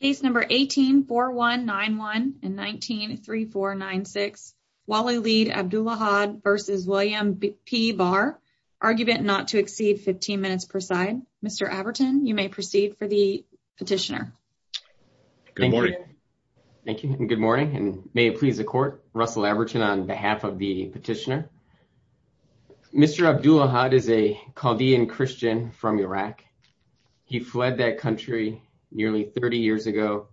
Case number 18-4191 and 19-3496, Walid Abdulahad v. William P Barr, argument not to exceed 15 minutes per side. Mr. Abertin, you may proceed for the petitioner. Good morning. Thank you and good morning and may it please the court, Russell Abertin on behalf of the petitioner. Mr. Abdulahad is a Chaldean Christian from Iraq. He fled that country nearly 30 years ago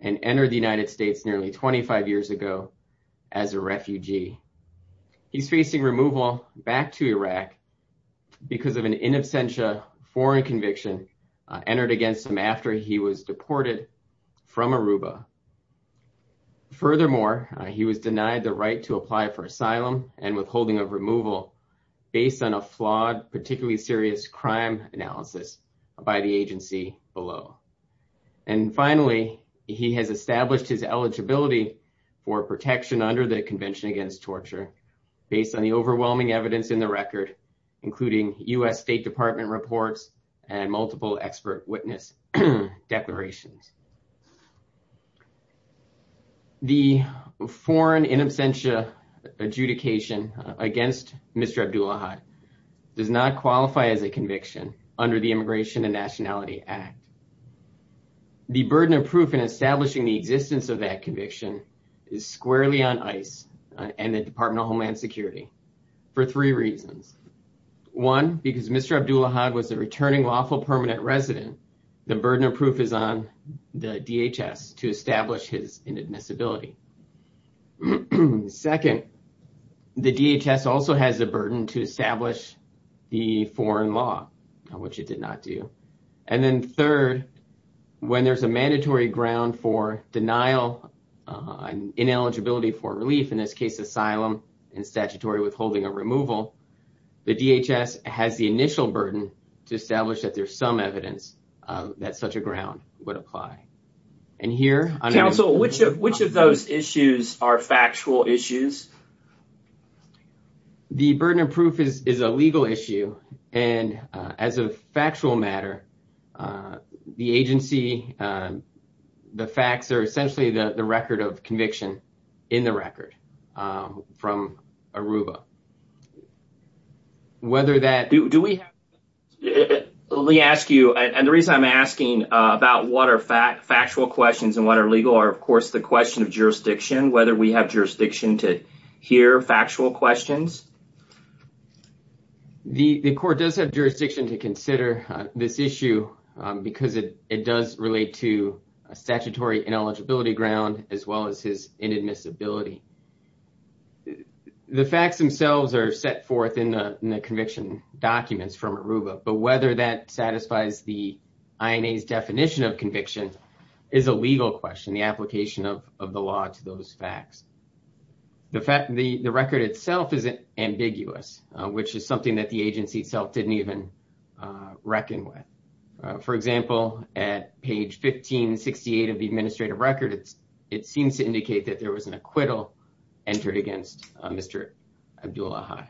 and entered the United States nearly 25 years ago as a refugee. He's facing removal back to Iraq because of an in absentia foreign conviction entered against him after he was deported from Aruba. Furthermore, he was denied the right to apply for asylum and withholding of removal based on particularly serious crime analysis by the agency below. And finally, he has established his eligibility for protection under the Convention Against Torture based on the overwhelming evidence in the record, including U.S. State Department reports and multiple expert witness declarations. The foreign in absentia adjudication against Mr. Abdulahad does not qualify as a conviction under the Immigration and Nationality Act. The burden of proof in establishing the existence of that conviction is squarely on ice and the Department of Homeland Security for three reasons. One, because Mr. Abdulahad was a returning lawful permanent resident, the burden of proof is on the DHS to establish his inadmissibility. Second, the DHS also has the burden to establish the foreign law, which it did not do. And then third, when there's a mandatory ground for denial and ineligibility for relief, in this case asylum and statutory withholding of removal, the DHS has the initial burden to establish that there's some evidence that such a ground would apply. And here... Counsel, which of those issues are factual issues? The burden of proof is a legal issue and as a factual matter, the agency, the facts are essentially the record of conviction in the record from ARUBA. Whether that... Do we... Let me ask you, and the reason I'm asking about what are factual questions and what are legal are, of course, the question of jurisdiction. Whether we have jurisdiction to hear factual questions? The court does have jurisdiction to consider this issue because it does relate to a statutory ineligibility ground as well as his inadmissibility. The facts themselves are set forth in the conviction documents from ARUBA, but whether that satisfies the INA's definition of conviction is a legal question, the application of the law to those facts. The record itself is ambiguous, which is something that the agency itself didn't even reckon with. For example, at page 1568 of the administrative record, it seems to indicate that there was an acquittal entered against Mr. Abdul-Ahad.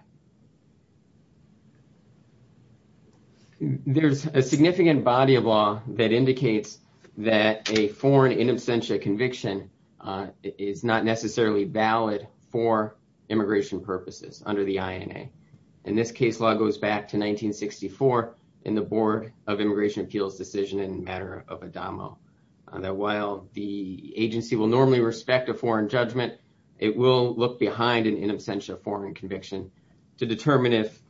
There's a significant body of law that indicates that a foreign in absentia conviction is not necessarily valid for in the board of immigration appeals decision in matter of ADAMO, that while the agency will normally respect a foreign judgment, it will look behind an in absentia foreign conviction to determine if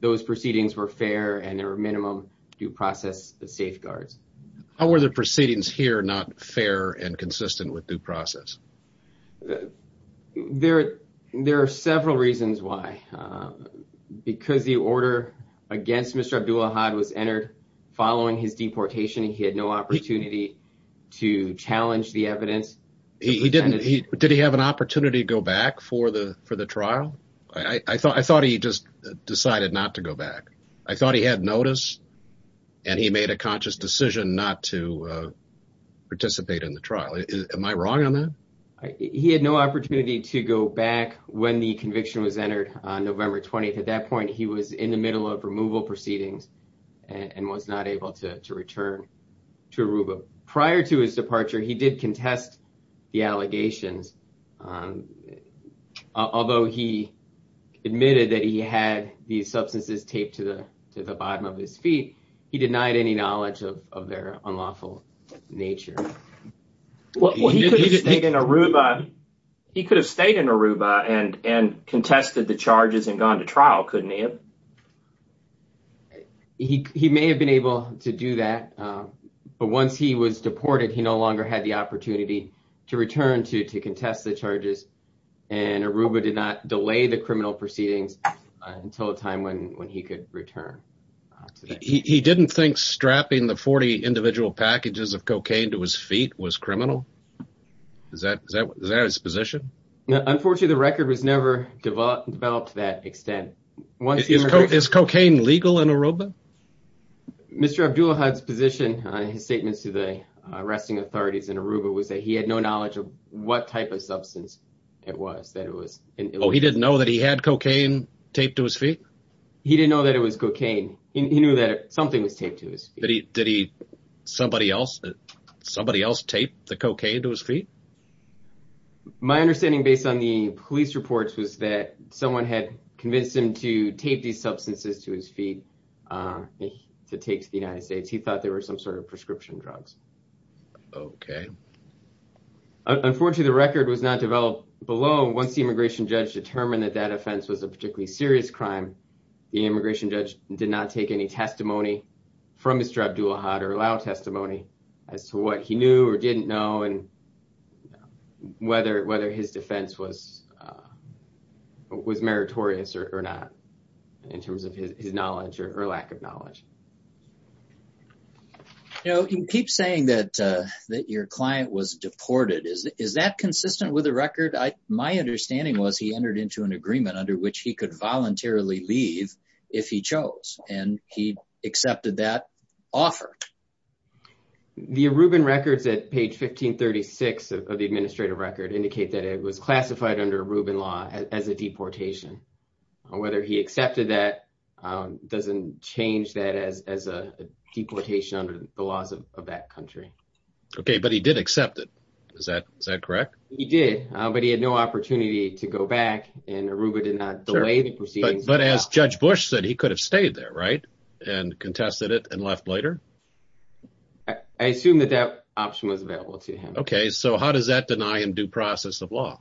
those proceedings were fair and there were minimum due process safeguards. How were the proceedings here not fair and consistent with due process? There are several reasons why. Because the order against Mr. Abdul-Ahad was entered following his deportation, he had no opportunity to challenge the evidence. Did he have an opportunity to go back for the trial? I thought he just decided not to go back. I thought he had notice and he made a conscious decision not to He had no opportunity to go back when the conviction was entered on November 20th. At that point, he was in the middle of removal proceedings and was not able to return to Aruba. Prior to his departure, he did contest the allegations. Although he admitted that he had the substances taped to the bottom of his feet, he denied any knowledge of their unlawful nature. Well, he could have stayed in Aruba and contested the charges and gone to trial, couldn't he have? He may have been able to do that. But once he was deported, he no longer had the opportunity to return to contest the charges. And Aruba did not delay the criminal proceedings until a time when he could return. He didn't think strapping the 40 packages of cocaine to his feet was criminal. Is that his position? Unfortunately, the record was never developed to that extent. Is cocaine legal in Aruba? Mr. Abdulahad's position on his statements to the arresting authorities in Aruba was that he had no knowledge of what type of substance it was. He didn't know that he had cocaine taped to his feet? He didn't know that it was cocaine. He knew that something was taped to his feet. Did somebody else tape the cocaine to his feet? My understanding, based on the police reports, was that someone had convinced him to tape these substances to his feet to take to the United States. He thought they were some sort of prescription drugs. Unfortunately, the record was not developed below. Once the immigration judge determined that that offense was a particularly serious crime, the immigration judge did not take any testimony from Mr. Abdulahad or allow testimony as to what he knew or didn't know and whether his defense was meritorious or not in terms of his knowledge or lack of knowledge. You keep saying that your client was deported. Is that consistent with the record? My understanding was he entered into an agreement under which he could voluntarily leave if he chose, and he accepted that offer. The Aruban records at page 1536 of the administrative record indicate that it was classified under Aruban law as a deportation. Whether he accepted that doesn't change that as a deportation under the laws of that country. But he did accept it. Is that correct? He did, but he had no opportunity to go back and Aruba did not delay the proceedings. But as Judge Bush said, he could have stayed there, right, and contested it and left later. I assume that that option was available to him. Okay, so how does that deny him due process of law?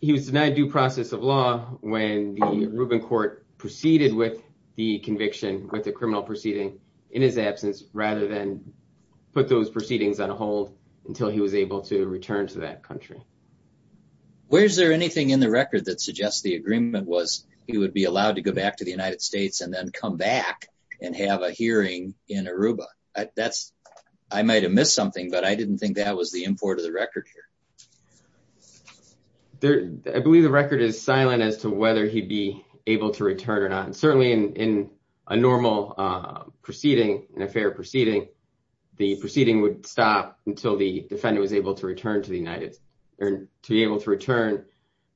He was denied due process of law when the Aruban court proceeded with the conviction with the criminal proceeding in his absence rather than put those proceedings on hold until he was able to return to that country. Where is there anything in the record that suggests the agreement was he would be allowed to go back to the United States and then come back and have a hearing in Aruba? I might have missed something, but I didn't think that was the import of the record here. I believe the record is silent as to whether he'd be able to return or not. And certainly in a normal proceeding, in a fair proceeding, the proceeding would stop until the defendant was able to return to the to be able to return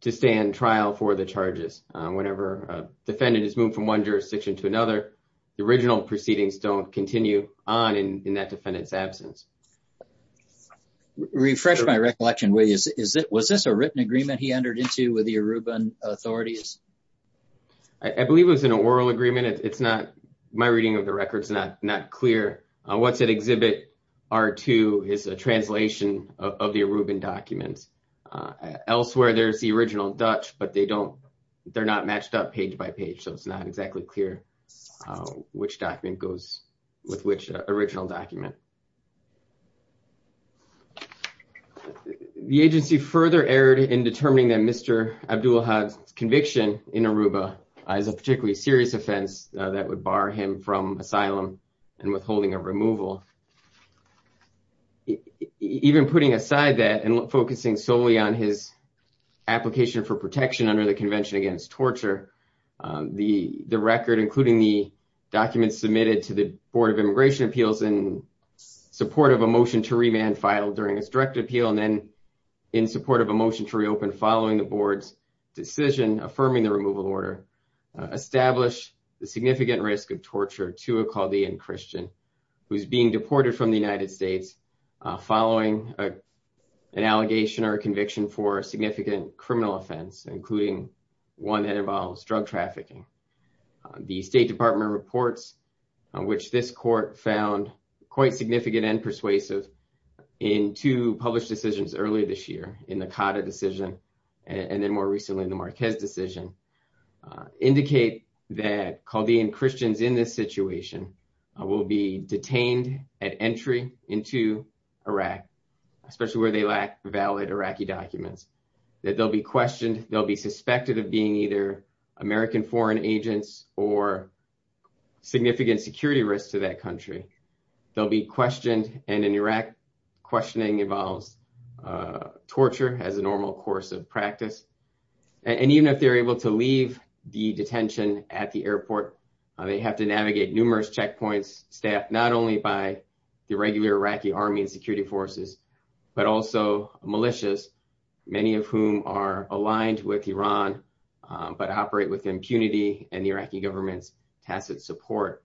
to stand trial for the charges. Whenever a defendant is moved from one jurisdiction to another, the original proceedings don't continue on in that defendant's absence. Refresh my recollection, will you, was this a written agreement he entered into with the Aruban authorities? I believe it was an oral agreement. It's not, my reading of the record is not clear. What's at exhibit R2 is a translation of the Aruban documents. Elsewhere, there's the original Dutch, but they don't, they're not matched up page by page. So it's not exactly clear which document goes with which original document. The agency further erred in determining that Mr. Abdul had conviction in Aruba as a particularly serious offense that would bar him from asylum and withholding of removal. Even putting aside that and focusing solely on his application for protection under the Convention Against Torture, the record, including the documents submitted to the Board of Immigration Appeals in support of a motion to remand filed during his direct appeal, and then in support of a motion to reopen following the board's decision, affirming the significant risk of torture to a Chaldean Christian who's being deported from the United States following an allegation or a conviction for a significant criminal offense, including one that involves drug trafficking. The State Department reports, which this court found quite significant and persuasive in two published decisions earlier this year, in the Cotta decision, and then more recently in the Marquez decision, indicate that Chaldean Christians in this situation will be detained at entry into Iraq, especially where they lack valid Iraqi documents, that they'll be questioned, they'll be suspected of being either American foreign agents or significant security risks to that country. They'll be questioned, and in Iraq, questioning involves torture as a normal course of practice. And even if they're able to leave the detention at the airport, they have to navigate numerous checkpoints staffed not only by the regular Iraqi Army and security forces, but also militias, many of whom are aligned with Iran, but operate with impunity and the Iraqi government's support.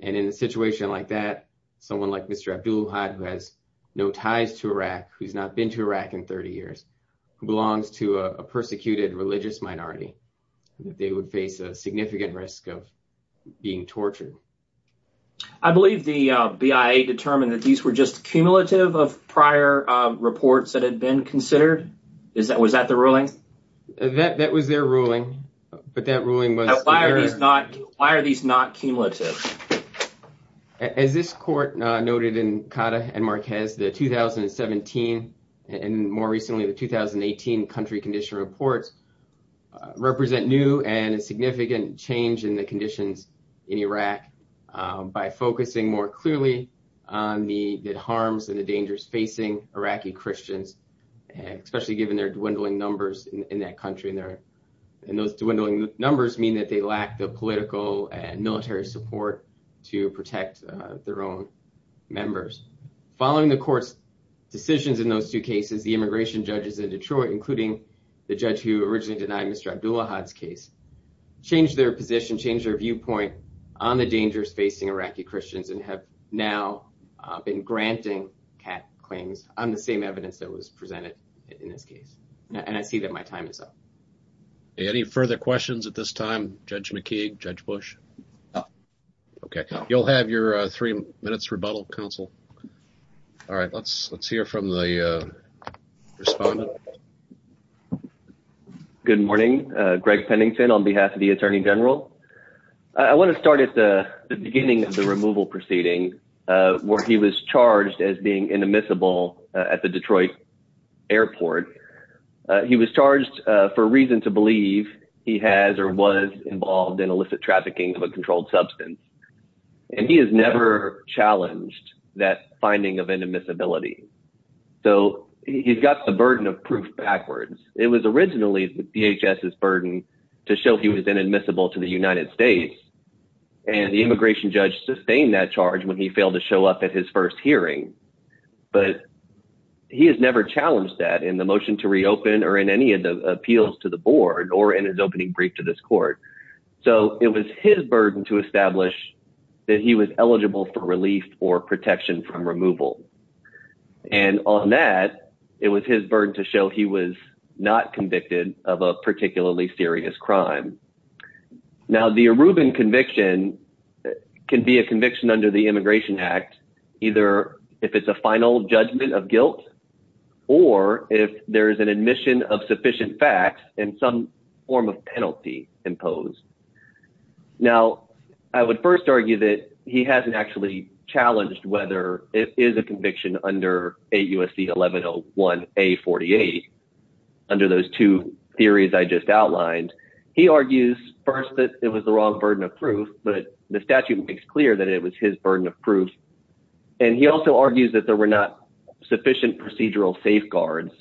And in a situation like that, someone like Mr. Abdullohad, who has no ties to Iraq, who's not been to Iraq in 30 years, who belongs to a persecuted religious minority, they would face a significant risk of being tortured. I believe the BIA determined that these were just a cumulative of prior reports that had been considered. Was that the ruling? That was their ruling, but that ruling was... Why are these not cumulative? As this court noted in Kata and Marquez, the 2017 and more recently the 2018 country condition reports represent new and significant change in the conditions in Iraq by focusing more clearly on the harms and the dangers facing Iraqi Christians, especially given their dwindling numbers in that country. And those dwindling numbers mean that they lack the political and military support to protect their own members. Following the court's decisions in those two cases, the immigration judges in Detroit, including the judge who originally denied Mr. Abdullohad's case, changed their position, changed their viewpoint on the dangers facing Iraqi Christians and have now been granting Kata claims on the same evidence that was presented in this case. And I see that my time is up. Any further questions at this time, Judge McKeague, Judge Bush? Okay. You'll have your three minutes rebuttal, counsel. All right. Let's hear from the respondent. Good morning. Greg Pennington on behalf of the Attorney General. I want to start at the beginning of the removal proceeding where he was charged as being inadmissible at the Detroit airport. He was charged for reason to believe he has or was involved in illicit trafficking of a controlled substance. And he has never challenged that finding of inadmissibility. So he's got the burden of proof backwards. It was originally the DHS's burden to show he was inadmissible to the United States. And the immigration judge sustained that charge when he failed to show up at his first hearing. But he has never challenged that in the motion to reopen or in any of the appeals to the board or in his opening brief to this court. So it was his burden to establish that he was eligible for relief or protection from removal. And on that, it was his burden to show he was not convicted of a particularly serious crime. Now, the Arubin conviction can be a conviction under the Immigration Act, either if it's a final judgment of guilt or if there is an admission of sufficient facts and some form of penalty imposed. Now, I would first argue that he hasn't actually challenged whether it is a conviction under AUSC 1101A48. Under those two theories I just outlined, he argues first that it was the wrong burden of proof, but the statute makes clear that it was his burden of proof. And he also argues that there were not sufficient procedural safeguards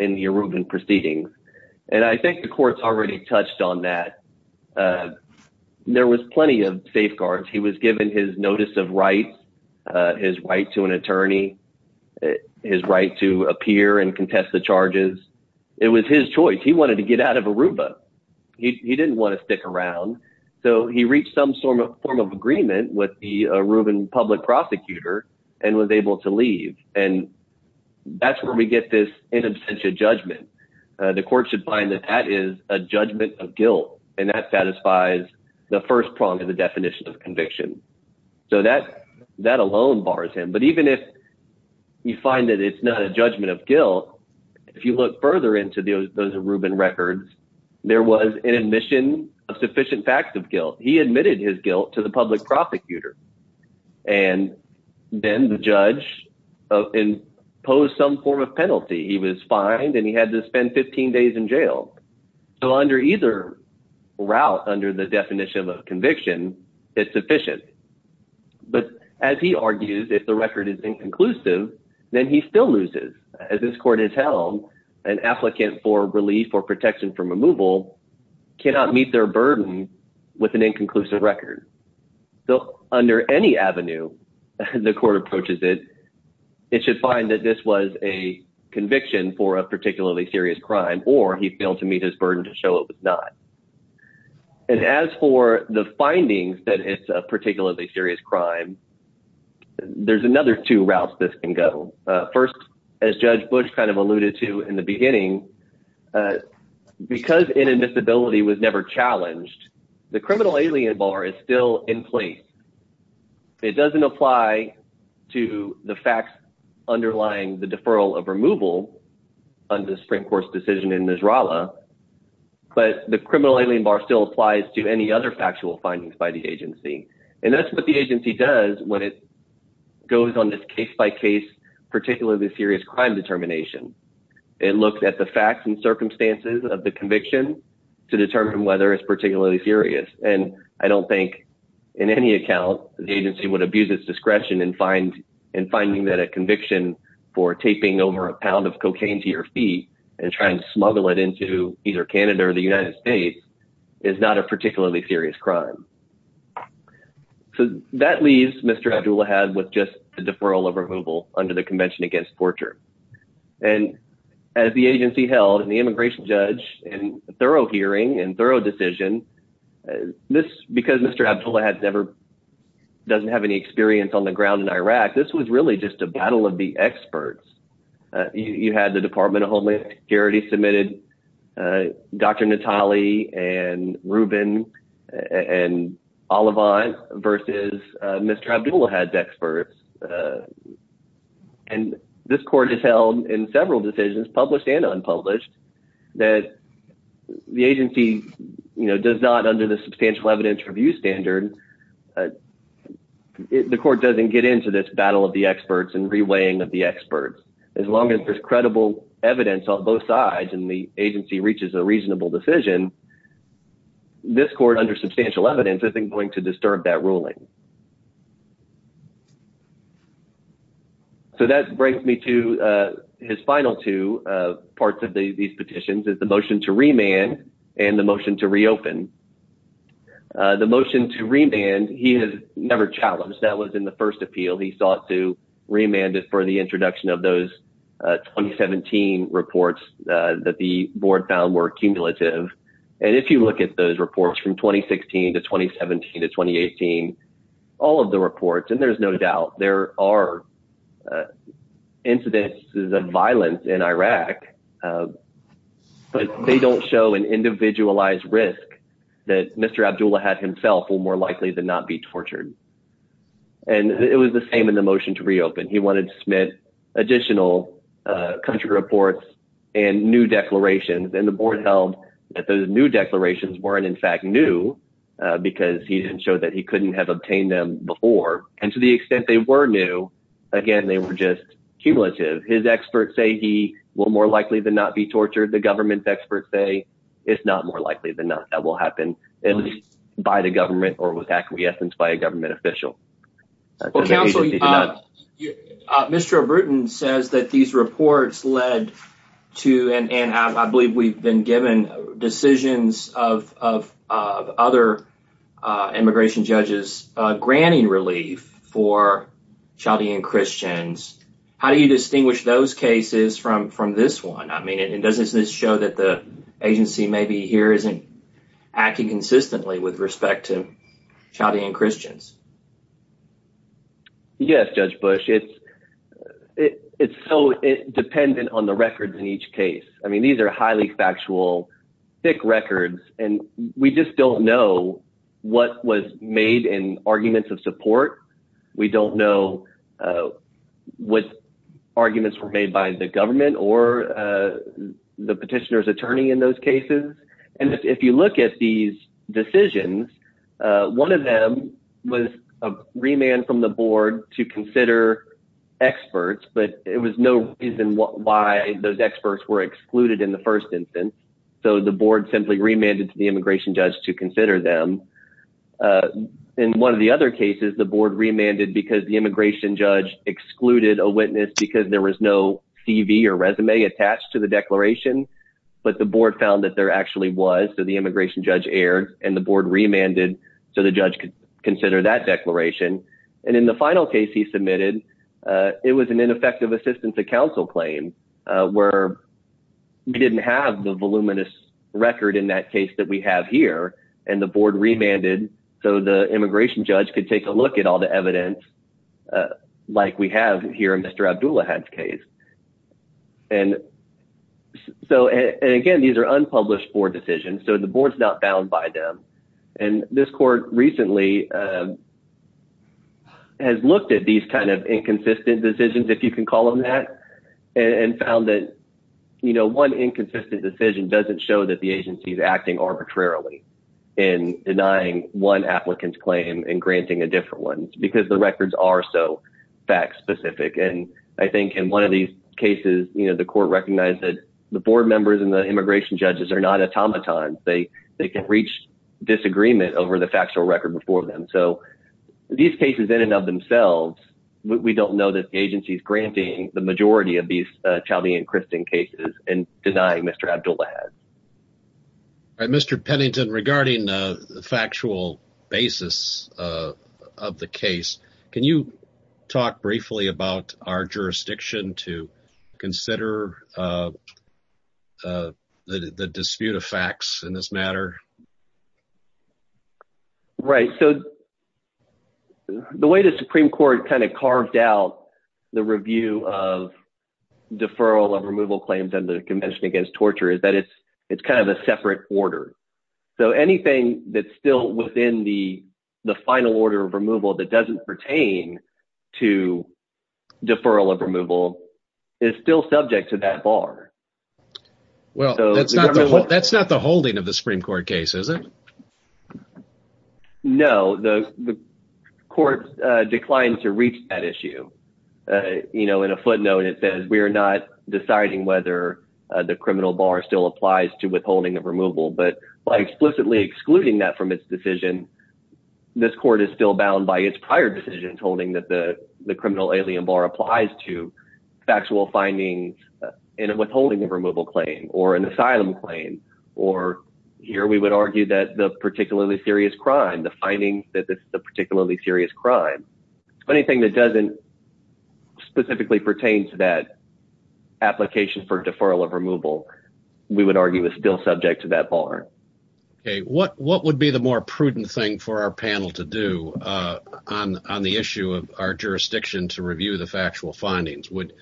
in the Arubin proceedings. And I think the courts already touched on that. There was plenty of safeguards. He was given his notice of rights, his right to an attorney, his right to appear and contest the charges. It was his choice. He wanted to get out of Aruba. He didn't want to stick around. So he reached some form of agreement with the Arubin public prosecutor and was able to leave. And that's where we get this in absentia judgment. The court should find that that is a judgment of guilt and that satisfies the first prong of the definition of conviction. So that alone bars him. But even if you find that it's not a judgment of guilt, if you look further into those Arubin records, there was an admission of sufficient facts of guilt. He admitted his guilt to the public prosecutor. And then the judge imposed some form of penalty. He was fined and he had to spend 15 days in jail. So under either route, under the definition of conviction, it's sufficient. But as he argues, if the record is inconclusive, then he still loses. As this court has held, an applicant for relief or protection from removal cannot meet their burden with an inconclusive record. So under any avenue, the court approaches it, it should find that this was a conviction for a particularly serious crime or he failed to meet his burden to show it was not. And as for the findings that it's a particularly serious crime, there's another two routes this can go. First, as Judge Bush kind of alluded to in the beginning, because inadmissibility was never challenged, the criminal alien bar is still in place. It doesn't apply to the facts underlying the deferral of removal under the Supreme Court's decision in Nisrala, but the criminal alien bar still applies to any other factual findings by the agency. And that's what the agency does when it goes on this case-by-case, particularly serious crime determination. It looks at the facts and circumstances of the conviction to determine whether it's particularly serious. And I don't think in any account the agency would abuse its discretion in finding that a conviction for taping over a pound of cocaine to your feet and trying to smuggle it into either Canada or the United States is not a particularly serious crime. So that leaves Mr. Abdulahad with just a deferral of removal under the Convention Against Torture. And as the agency held, and the immigration judge in a thorough hearing and thorough decision, this, because Mr. Abdulahad never, doesn't have any experience on the ground in Iraq, this was really just a battle of the experts. You had the Department of Homeland Security submitted Dr. Natale and Rubin and Olivan versus Mr. Abdulahad's experts. And this court has held in several decisions, published and unpublished, that the agency does not, under the substantial evidence review standard, the court doesn't get into this battle of the experts and reweighing of the experts. As long as there's credible evidence on both sides and the agency reaches a reasonable decision, this court, under substantial evidence, isn't going to disturb that ruling. So that brings me to his final two parts of these petitions is the motion to remand and the motion to reopen. The motion to remand he has never challenged. That was in the first of those 2017 reports that the board found were cumulative. And if you look at those reports from 2016 to 2017 to 2018, all of the reports, and there's no doubt there are incidences of violence in Iraq. But they don't show an individualized risk that Mr. Abdulahad himself will more likely than not be tortured. And it was the same in the motion to reopen. He wanted to submit additional country reports and new declarations. And the board held that those new declarations weren't in fact new because he didn't show that he couldn't have obtained them before. And to the extent they were new, again, they were just cumulative. His experts say he will more likely than not be tortured. The government experts say it's not more likely than not that will happen, at least by the government or with acquiescence by a government official. Well, Counselor, Mr. O'Britton says that these reports led to, and I believe we've been given, decisions of other immigration judges granting relief for Chaldean Christians. How do you distinguish those cases from this one? I mean, doesn't this show that the agency maybe here isn't acting consistently with respect to Chaldean Christians? Yes, Judge Bush, it's dependent on the records in each case. I mean, these are highly factual, thick records, and we just don't know what was made in arguments of support. We don't know what arguments were made by the government or the petitioner's attorney in those cases. And if you look at these decisions, one of them was a remand from the board to consider experts, but it was no reason why those experts were excluded in the first instance. So the board simply remanded to the immigration judge to consider them. In one of the other cases, the board remanded because the immigration judge excluded a witness because there was no CV or resume attached to the declaration, but the board found that there actually was, so the immigration judge erred, and the board remanded so the judge could consider that declaration. And in the final case he submitted, it was an ineffective assistance to counsel claim where we didn't have the voluminous record in that case that we have here, and the board remanded so the immigration judge could take a look at all the evidence like we have here in Mr. Abdulahad's case. And so, and again, these are unpublished board decisions, so the board's not bound by them. And this court recently has looked at these kind of inconsistent decisions, if you can call them that, and found that, you know, one inconsistent decision doesn't show that the agency is acting arbitrarily in denying one applicant's claim and granting a different one, because the records are so fact-specific. And I think in one of these cases, you know, the court recognized that the board members and the immigration judges are not automatons. They can reach disagreement over the factual record before them. So these cases in and of themselves, we don't know that the agency's granting the majority of these Chauvey and Christen cases and denying Mr. Abdulahad. All right, Mr. Pennington, regarding the factual basis of the case, can you talk briefly about our jurisdiction to consider the dispute of facts in this matter? Right. So the way the Supreme Court kind of carved out the review of deferral and removal claims under the Convention Against Torture is that it's kind of a separate order. So anything that's still within the final order of removal that doesn't pertain to deferral of removal is still subject to that bar. Well, that's not the holding of the Supreme Court case, is it? No, the court declined to reach that issue. You know, in a footnote it says, we are not deciding whether the criminal bar still applies to withholding of removal. But by explicitly excluding that from its decision, this court is still bound by its prior decisions holding that the criminal alien bar applies to factual findings in a withholding of removal claim or an asylum claim. Or here we would argue that the particularly serious crime, the finding that the particularly serious crime, anything that doesn't specifically pertain to that application for deferral of removal, we would argue is still subject to that bar. Okay. What would be the more prudent thing for our panel to do on the issue of our jurisdiction to review the factual findings? Would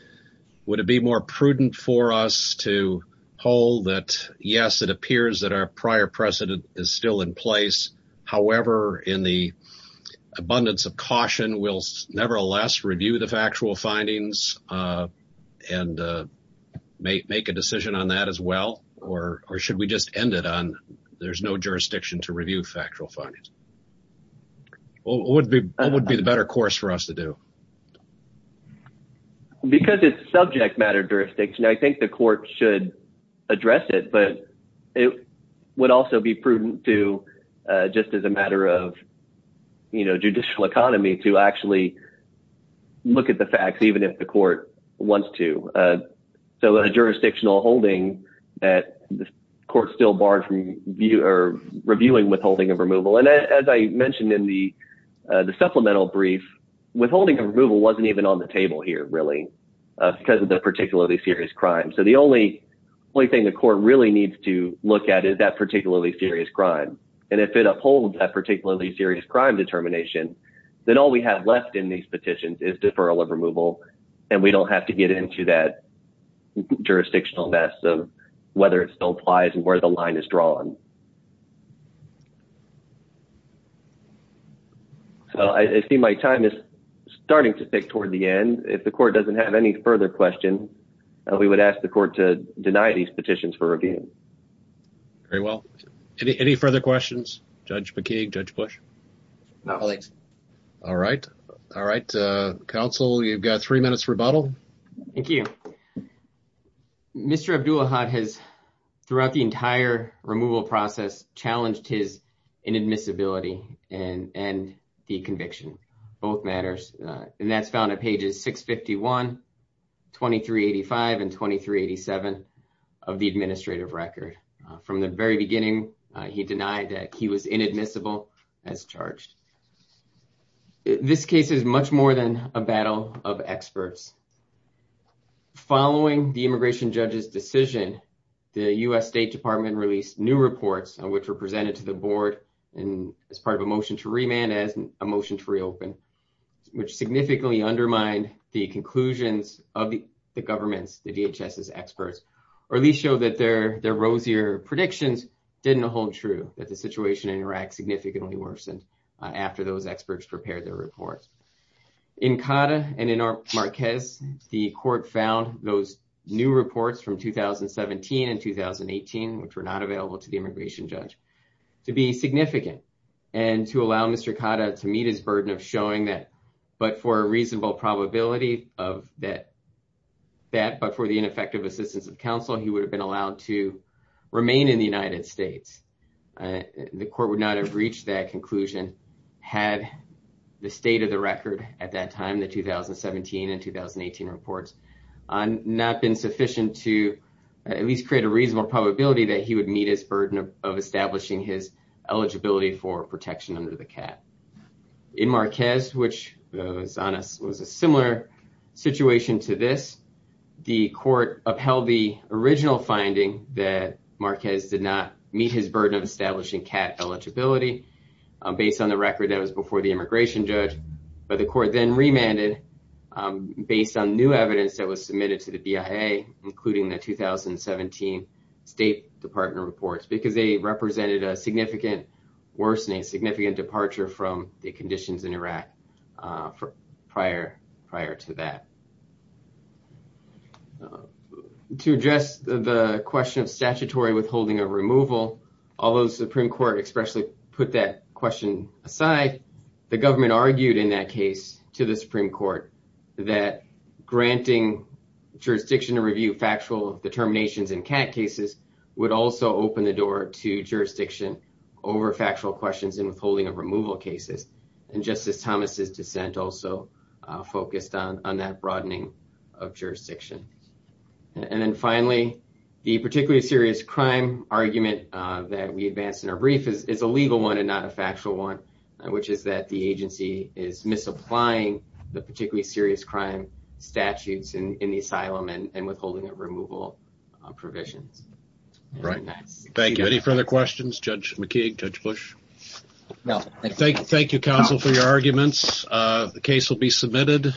it be more prudent for us to hold that, yes, it appears that a prior precedent is still in place. However, in the abundance of caution, we'll nevertheless review the factual findings and make a decision on that as well? Or should we just end it on there's no jurisdiction to review factual findings? What would be the better course for us to do? Because it's subject matter jurisdiction, I think the court should address it, but it would also be prudent to just as a matter of, you know, judicial economy to actually look at the facts, even if the court wants to. So a jurisdictional holding that the court still barred from reviewing withholding of removal. And as I mentioned in the supplemental brief, withholding of removal wasn't even on the table here, really, because of the particularly serious crime. So the only thing the court really needs to look at is that particularly serious crime. And if it upholds that particularly serious crime determination, then all we have left in these petitions is deferral of removal, and we don't have to get into that jurisdictional mess of whether it still applies and where the line is drawn. So I see my time is starting to pick toward the end. If the court doesn't have any further question, we would ask the court to deny these petitions for review. Very well. Any further questions? Judge McKeague? Judge Bush? No. All right. All right. Council, you've got three minutes rebuttal. Thank you. Mr. Abdul-Ahad has throughout the entire removal process challenged his inadmissibility and the conviction. Both matters. And that's found at pages 651, 2385, and 2387 of the administrative record. From the very beginning, he denied that he was inadmissible as charged. This case is much more than a battle of experts. Following the immigration judge's decision, the U.S. State Department released new reports, which were presented to the board as part of a motion to remand as a motion to reopen, which significantly undermined the conclusions of the government's, the DHS's experts, or at least show that their rosier predictions didn't hold true, that the situation in Iraq significantly worsened after those experts prepared their report. In Cotta and in Marquez, the court found those new reports from 2017 and 2018, which were not available to the immigration judge, to be significant and to allow Mr. Cotta to meet his burden of showing that, but for a reasonable probability of that, but for the ineffective assistance of counsel, he would have been allowed to remain in the United States. The court would not have reached that conclusion had the state of the record at that time, the 2017 and 2018 reports, not been sufficient to at least create a reasonable probability that he would meet his burden of establishing his eligibility for protection under the CAT. In Marquez, which was a similar situation to this, the court upheld the original finding that Marquez did not meet his burden of based on the record that was before the immigration judge, but the court then remanded based on new evidence that was submitted to the BIA, including the 2017 State Department reports, because they represented a significant worsening, significant departure from the conditions in Iraq prior to that. To address the question of statutory withholding of removal, although the Supreme Court especially put that question aside, the government argued in that case to the Supreme Court that granting jurisdiction to review factual determinations in CAT cases would also open the door to jurisdiction over factual questions in withholding of removal cases. And Justice Thomas' dissent also focused on that broadening of jurisdiction. And then finally, the particularly serious crime argument that we advanced in our brief is a legal one and not a factual one, which is that the agency is misapplying the particularly serious crime statutes in the asylum and withholding of removal provisions. Right. Thank you. Any further questions? Judge McKeague? Judge Bush? Thank you, counsel, for your arguments. The case will be submitted.